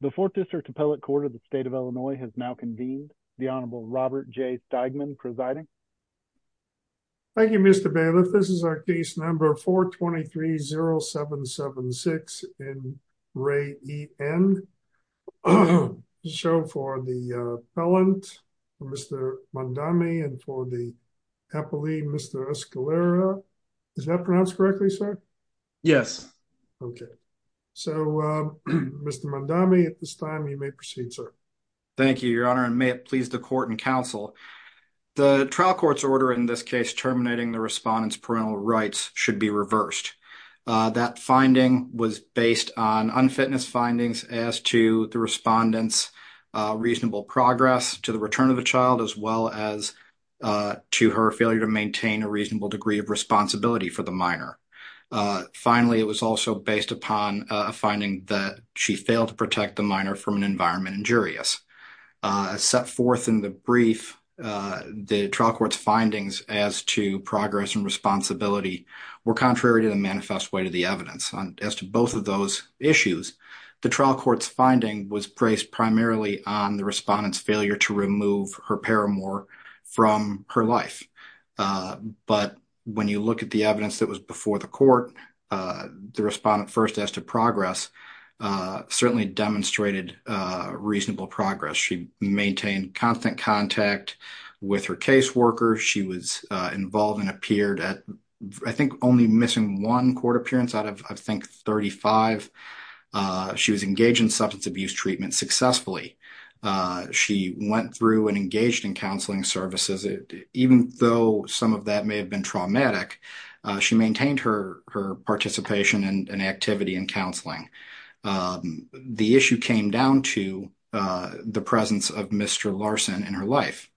The Fourth District Appellate Court of the State of Illinois has now convened. The Honorable Robert J. Steigman presiding. Thank you, Mr. Bailiff. This is our case number 423-0776 in Ray E.N. Show for the appellant, Mr. Mondami, and for the appellee, Mr. Escalera. Is that pronounced correctly, sir? Yes. Okay. So, Mr. Mondami, at this time, you may proceed, sir. Thank you, Your Honor, and may it please the court and counsel, the trial court's order in this case terminating the respondent's parental rights should be reversed. That finding was based on unfitness findings as to the respondent's reasonable progress to the return of the child as well as to her failure to maintain a reasonable degree of responsibility for the minor. Finally, it was also based upon a finding that she failed to protect the minor from an environment injurious. As set forth in the brief, the trial court's findings as to progress and responsibility were contrary to the manifest weight of the evidence. As to both of those issues, the trial court's finding was placed primarily on the respondent's failure to remove her paramour from her life. But when you look at the evidence that was before the court, the respondent first as to progress certainly demonstrated reasonable progress. She maintained constant contact with her caseworker. She was involved and appeared at, I think, only missing one court appearance out of, I think, 35. She was engaged in substance abuse treatment successfully. She went through and engaged in counseling services. Even though some of that may have been traumatic, she maintained her participation and activity in counseling. The issue came down to the presence of Mr. Larson in her life.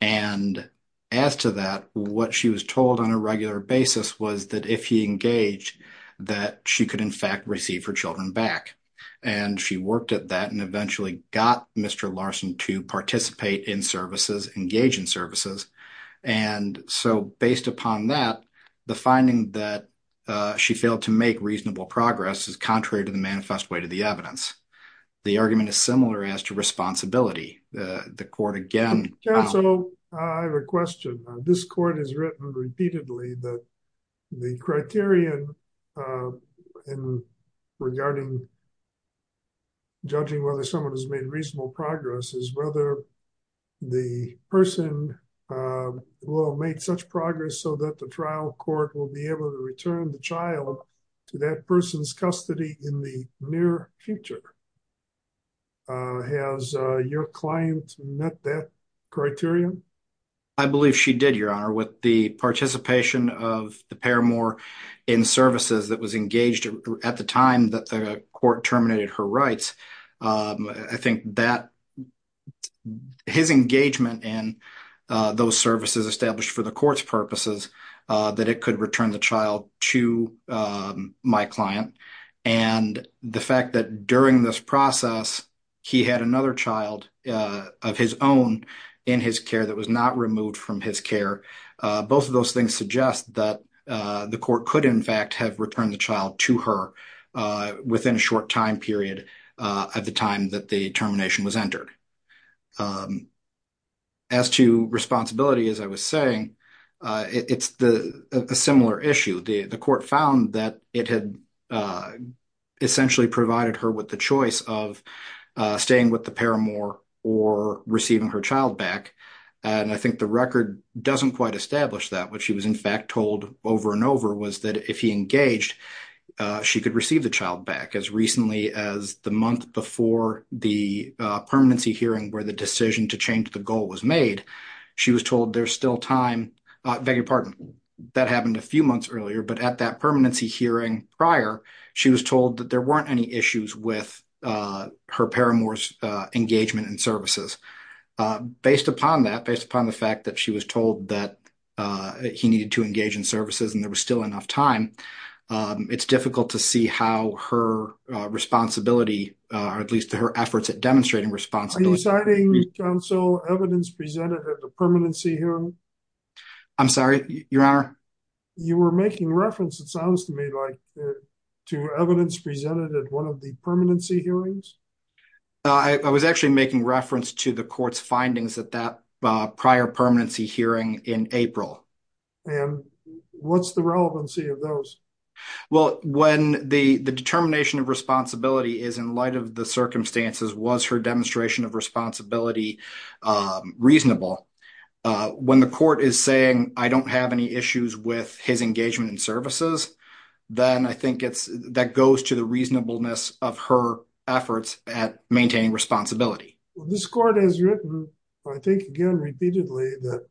And as to that, what she was told on a regular basis was that if he engaged, that she could, in fact, receive her children back. And she worked at that and eventually got Mr. Larson to participate in services, engage in services. And so, based upon that, the finding that she failed to make reasonable progress is contrary to the manifest weight of the evidence. The argument is similar as to responsibility. The court again- I have a question. This court has written repeatedly that the criterion regarding judging whether someone has made reasonable progress is whether the person will make such progress so that the trial court will be able to return the child to that person's custody in the near future. Has your client met that criterion? I believe she did, Your Honor. With the participation of the paramour in services that was engaged at the time that the court terminated her rights, I think that his engagement in those services established for the court's purposes, that it could return the my client. And the fact that during this process, he had another child of his own in his care that was not removed from his care, both of those things suggest that the court could, in fact, have returned the child to her within a short time period at the time that the termination was entered. As to responsibility, as I was saying, it's a similar issue. The court found that it had essentially provided her with the choice of staying with the paramour or receiving her child back. And I think the record doesn't quite establish that. What she was, in fact, told over and over was that if he engaged, she could receive the child back as recently as the month before the permanency hearing where the decision to change the goal was made. She was told there's still time. Beg your pardon, that happened a few months earlier, but at that permanency hearing prior, she was told that there weren't any issues with her paramour's engagement in services. Based upon that, based upon the fact that she was told that he needed to engage in services and there was still enough time, it's difficult to see how her responsibility, or at least her efforts at demonstrating responsibility... Are you citing counsel evidence presented at the permanency hearing? I'm sorry, your honor? You were making reference, it sounds to me like, to evidence presented at one of the permanency hearings? I was actually making reference to the court's findings at that time. What's the relevancy of those? Well, when the determination of responsibility is in light of the circumstances, was her demonstration of responsibility reasonable? When the court is saying, I don't have any issues with his engagement in services, then I think that goes to the reasonableness of her efforts at maintaining responsibility. This court has written, I think, again repeatedly, that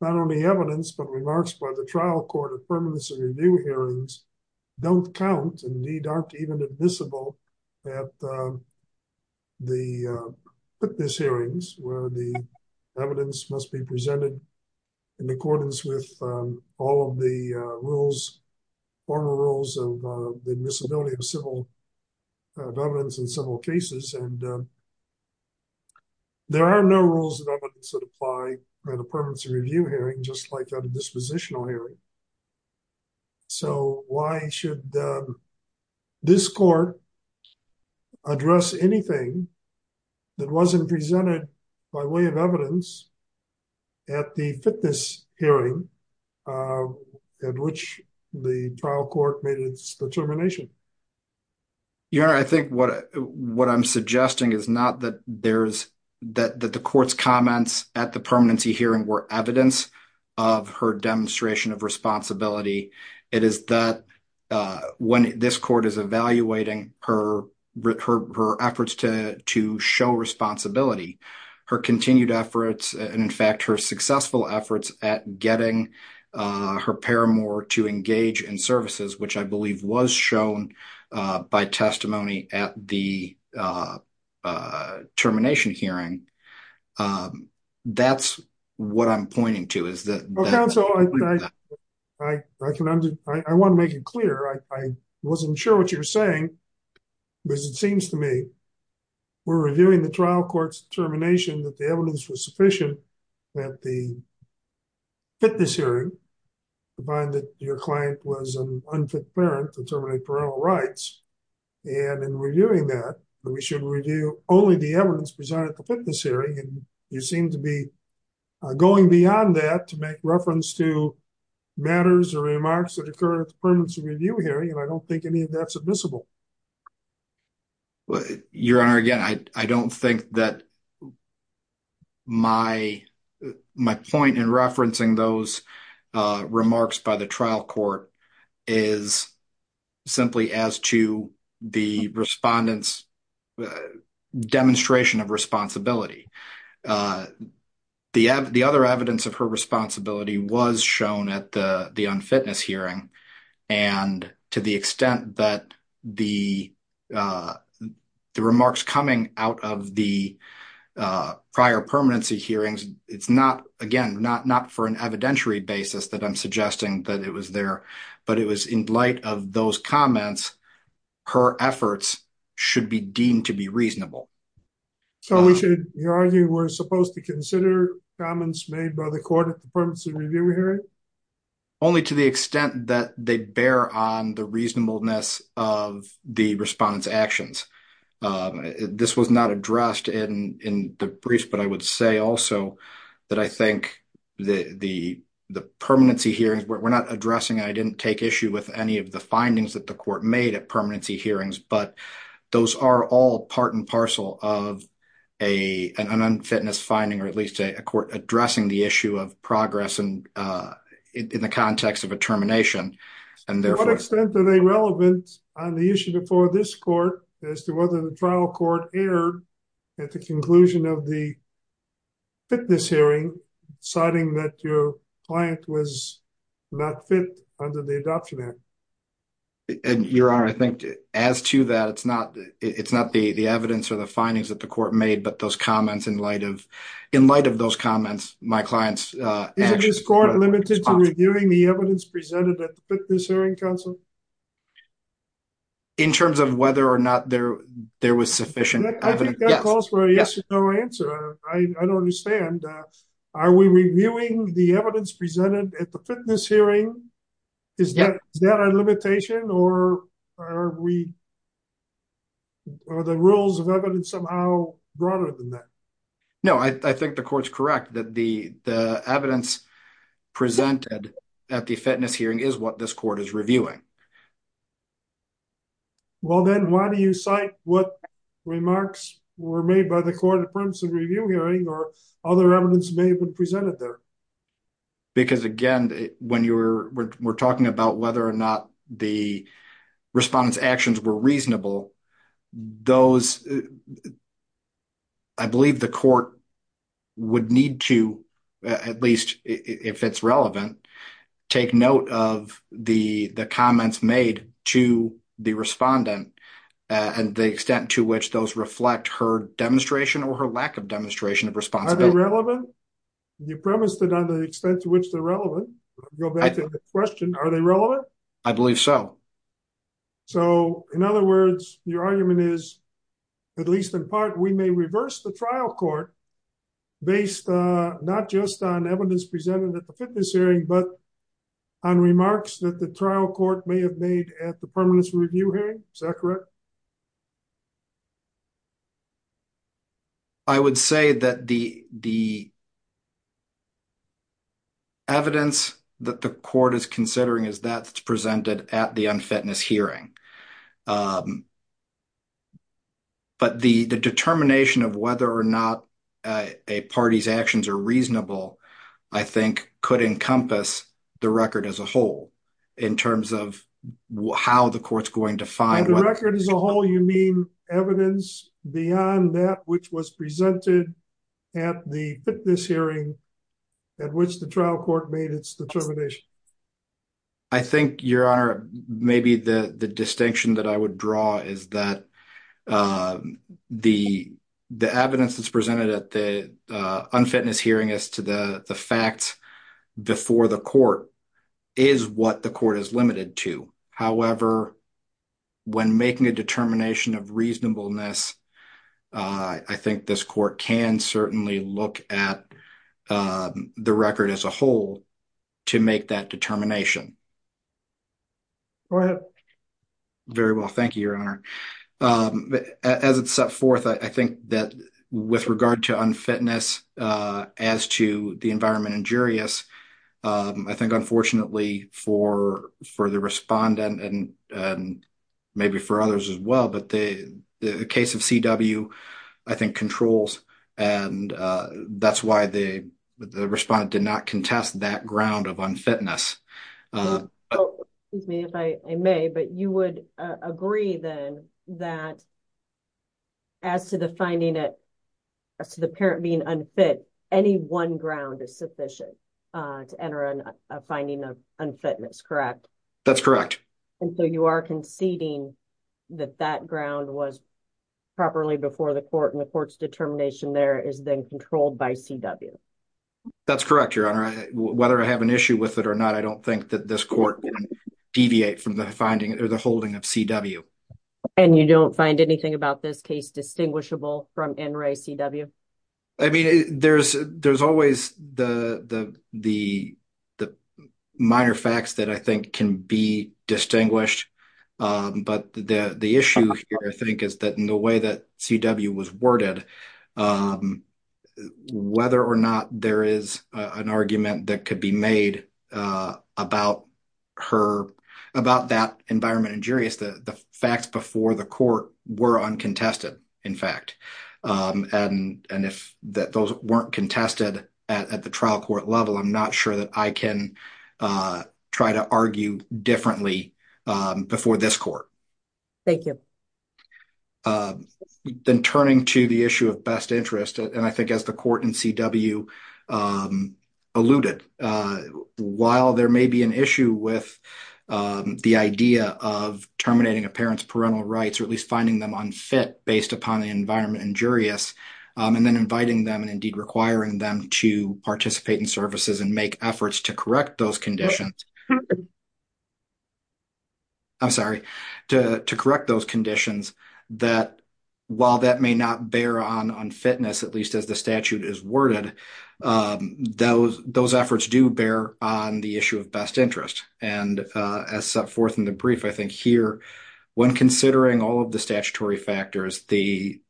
not only evidence, but remarks by the trial court of permanency review hearings don't count, and indeed aren't even admissible at the witness hearings, where the evidence must be presented in accordance with all of the rules, former rules of the evidence that apply at a permanency review hearing, just like at a dispositional hearing. So why should this court address anything that wasn't presented by way of evidence at the fitness hearing, at which the trial court made its determination? Your Honor, I think what I'm suggesting is not that the court's comments at the permanency hearing were evidence of her demonstration of responsibility. It is that when this court is evaluating her efforts to show responsibility, her continued efforts, and in fact, her successful efforts at getting her paramour to engage in services, which I believe was shown by testimony at the termination hearing, that's what I'm pointing to. Counsel, I want to make it clear. I wasn't sure what you were saying, but it seems to me we're reviewing the trial court's determination that the evidence was sufficient at the fitness hearing to find that your client was an unfit parent to terminate parental rights, and in reviewing that, we should review only the evidence presented at the fitness hearing, and you seem to be going beyond that to make reference to matters or remarks that occur at the permanency review hearing, and I don't think any of that's visible. Your Honor, again, I don't think that my point in referencing those remarks by the trial court is simply as to the respondent's demonstration of responsibility. The other evidence of her the remarks coming out of the prior permanency hearings, it's not, again, not for an evidentiary basis that I'm suggesting that it was there, but it was in light of those comments, her efforts should be deemed to be reasonable. So we should argue we're supposed to consider comments made by the court at the permanency review hearing? Only to the extent that they bear on the reasonableness of the respondent's actions. This was not addressed in the briefs, but I would say also that I think the permanency hearings, we're not addressing, I didn't take issue with any of the findings that the court made at permanency hearings, but those are all part and parcel of an unfitness finding, or at least a court addressing the issue of progress in the on the issue before this court as to whether the trial court erred at the conclusion of the fitness hearing, citing that your client was not fit under the adoption act. Your Honor, I think as to that, it's not the evidence or the findings that the court made, but those comments in light of, in light of those comments, my client's actions. Is this court limited to reviewing the evidence presented at the fitness hearing, counsel? In terms of whether or not there was sufficient evidence? I think that calls for a yes or no answer. I don't understand. Are we reviewing the evidence presented at the fitness hearing? Is that a limitation or are we, are the rules of evidence somehow broader than that? No, I think the court's correct that the fitness hearing is what this court is reviewing. Well, then why do you cite what remarks were made by the court of permanency review hearing or other evidence may have been presented there? Because again, when you're, we're talking about whether or not the respondents actions were relevant, take note of the comments made to the respondent and the extent to which those reflect her demonstration or her lack of demonstration of responsibility. Are they relevant? You premised it on the extent to which they're relevant. Go back to the question. Are they relevant? I believe so. So in other words, your argument is, at least in part, we may reverse the trial court based not just on evidence presented at the fitness hearing, but on remarks that the trial court may have made at the permanence review hearing. Is that correct? I would say that the, the evidence that the court is considering is that it's presented at the unfitness hearing. But the, the determination of whether or not a party's actions are reasonable, I think could encompass the record as a whole in terms of how the court's going to find what the record is. As a whole, you mean evidence beyond that, which was presented at the fitness hearing at which the trial court made its determination. I think, Your Honor, maybe the distinction that I would draw is that the evidence that's presented at the unfitness hearing as to the facts before the court is what the court is limited to. However, when making a determination of reasonableness, I think this court can certainly look at the record as a whole to make that determination. Go ahead. Very well, thank you, Your Honor. As it's set forth, I think that with regard to unfitness as to the environment injurious, I think unfortunately for the respondent and maybe for others as well, but the case of CW I think controls and that's why the respondent did not contest that ground of unfitness. Excuse me if I may, but you would agree then that as to the finding that as to the parent being unfit, any one ground is sufficient to enter in a finding of unfitness, correct? That's correct. And so you are conceding that that ground was properly before the court and the court's determination there is then controlled by CW? That's correct, Your Honor. Whether I have an issue with it or not, I don't think that this court can deviate from the finding or the holding of CW. And you don't find anything about this case distinguishable from NRA CW? I mean, there's always the minor facts that I think can be distinguished, but the issue here I think is that in the way that CW was worded, whether or not there is an argument that could be made about that environment injurious, the facts before the court were uncontested, in fact. And if those weren't contested at the trial court level, I'm not sure that I can try to argue differently before this court. Thank you. Then turning to the issue of best interest, and I think as the court in CW alluded, while there parental rights or at least finding them unfit based upon the environment injurious, and then inviting them and indeed requiring them to participate in services and make efforts to correct those conditions, I'm sorry, to correct those conditions, that while that may not bear on unfitness, at least as the statute is worded, those efforts do bear on the issue of best interest. And as set forth in the brief, I think here, when considering all of the statutory factors, the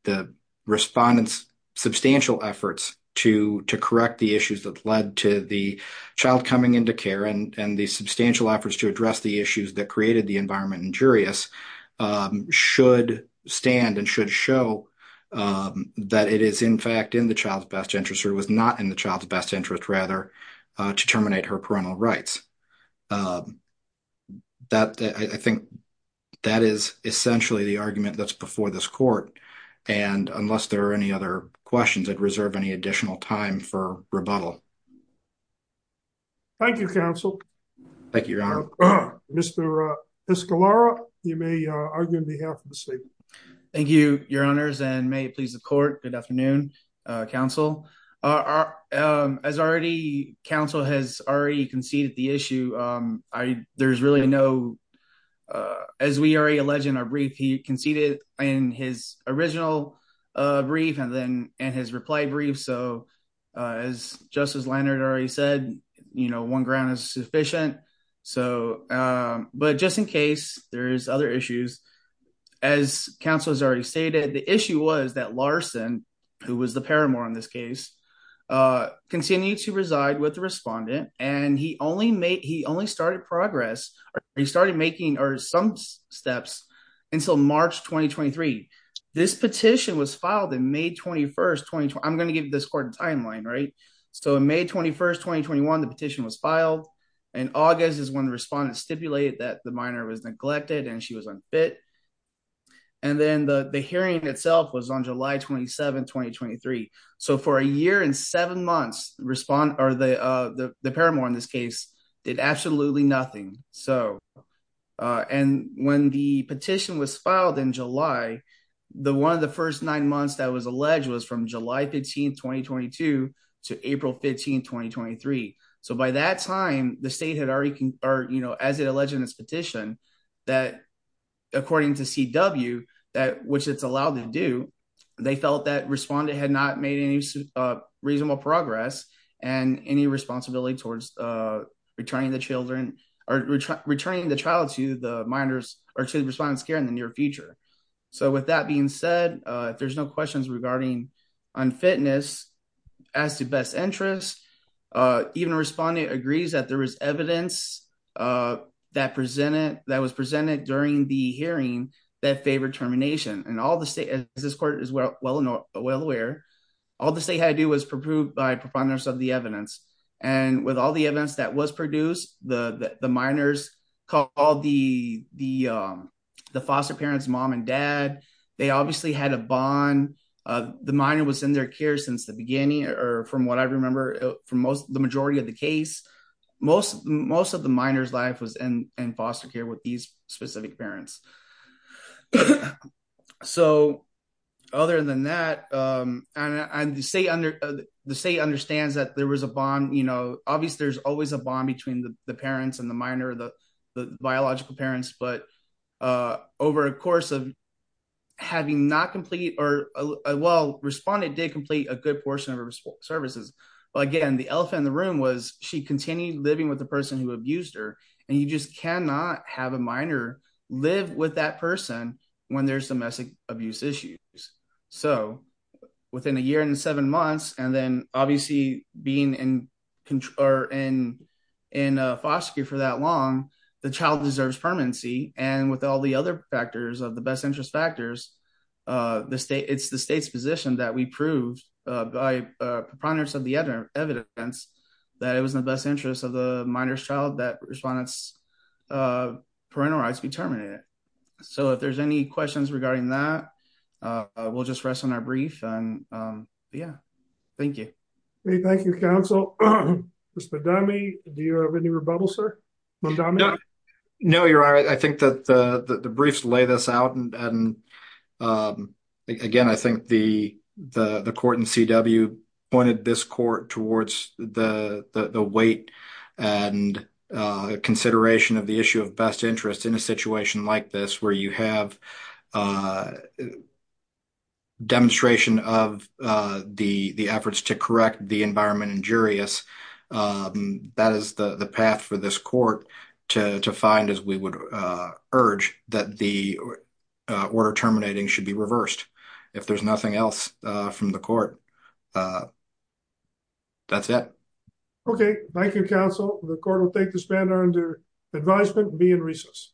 respondent's substantial efforts to correct the issues that led to the child coming into care and the substantial efforts to address the issues that created the environment injurious should stand and should show that it is in fact in the child's best interest or was not in the parental rights. I think that is essentially the argument that's before this court. And unless there are any other questions, I'd reserve any additional time for rebuttal. Thank you, counsel. Thank you, your honor. Mr. Piscolaro, you may argue on behalf of the state. Thank you, your honors, and may it please the court. Good afternoon, counsel. As already, counsel has already conceded the issue. There's really no, as we already alleged in our brief, he conceded in his original brief and then in his reply brief. So as Justice Leonard already said, you know, one ground is sufficient. So, but just in case, there is other issues. As counsel has already stated, the issue was that Larson, who was the paramour in this case, continued to reside with the respondent and he only made, he only started progress. He started making some steps until March 2023. This petition was filed in May 21st. I'm going to give this court a timeline, right? So in May 21st, 2021, the petition was filed and August is when respondents stipulated that the minor was neglected and she was unfit. And then the hearing itself was on July 27th, 2023. So for a year and seven months, the paramour in this case did absolutely nothing. So, and when the petition was filed in July, one of the first nine months that was alleged was from July 15th, 2022 to April 15th, 2023. So by that time, the state had already, or, you know, as it alleged in this petition, that according to CW, that which it's allowed to do, they felt that respondent had not made any reasonable progress and any responsibility towards returning the children or returning the child to the minors or to the respondent's care in the near future. So with that being said, if there's no questions regarding unfitness as to best interest, even respondent agrees that there was evidence that presented, that was presented during the hearing that favored termination and all the state, as this court is well aware, all the state had to do was prove by profoundness of the evidence. And with all the evidence that was produced, the minors called the bond. The minor was in their care since the beginning, or from what I remember from most, the majority of the case, most, most of the minor's life was in foster care with these specific parents. So other than that, the state understands that there was a bond, you know, obviously there's always a bond between the parents and the minor, the biological parents, but over a course of having not complete or, well, respondent did complete a good portion of her services, but again, the elephant in the room was she continued living with the person who abused her and you just cannot have a minor live with that person when there's domestic abuse issues. So within a year and seven months, and then obviously being in control or in, in a foster care for that long, the child deserves permanency. And with all the other factors of the best interest factors, the state it's the state's position that we proved by profoundness of the evidence that it was in the best interest of the minor's child that respondents parental rights be terminated. So if there's any questions regarding that, we'll just rest on our brief. And yeah, thank you. Thank you, counsel. Mr. Dummy. Do you have any rebuttal, sir? No, you're all right. I think that the briefs lay this out. And again, I think the, the court and CW pointed this court towards the, the weight and consideration of the issue of best interest in a situation like this, where you have a demonstration of the efforts to correct the environment injurious. That is the path for this court to find as we would urge that the order terminating should be reversed if there's nothing else from the court. That's it. Okay, thank you, counsel. The court will take this matter under advisement be in recess.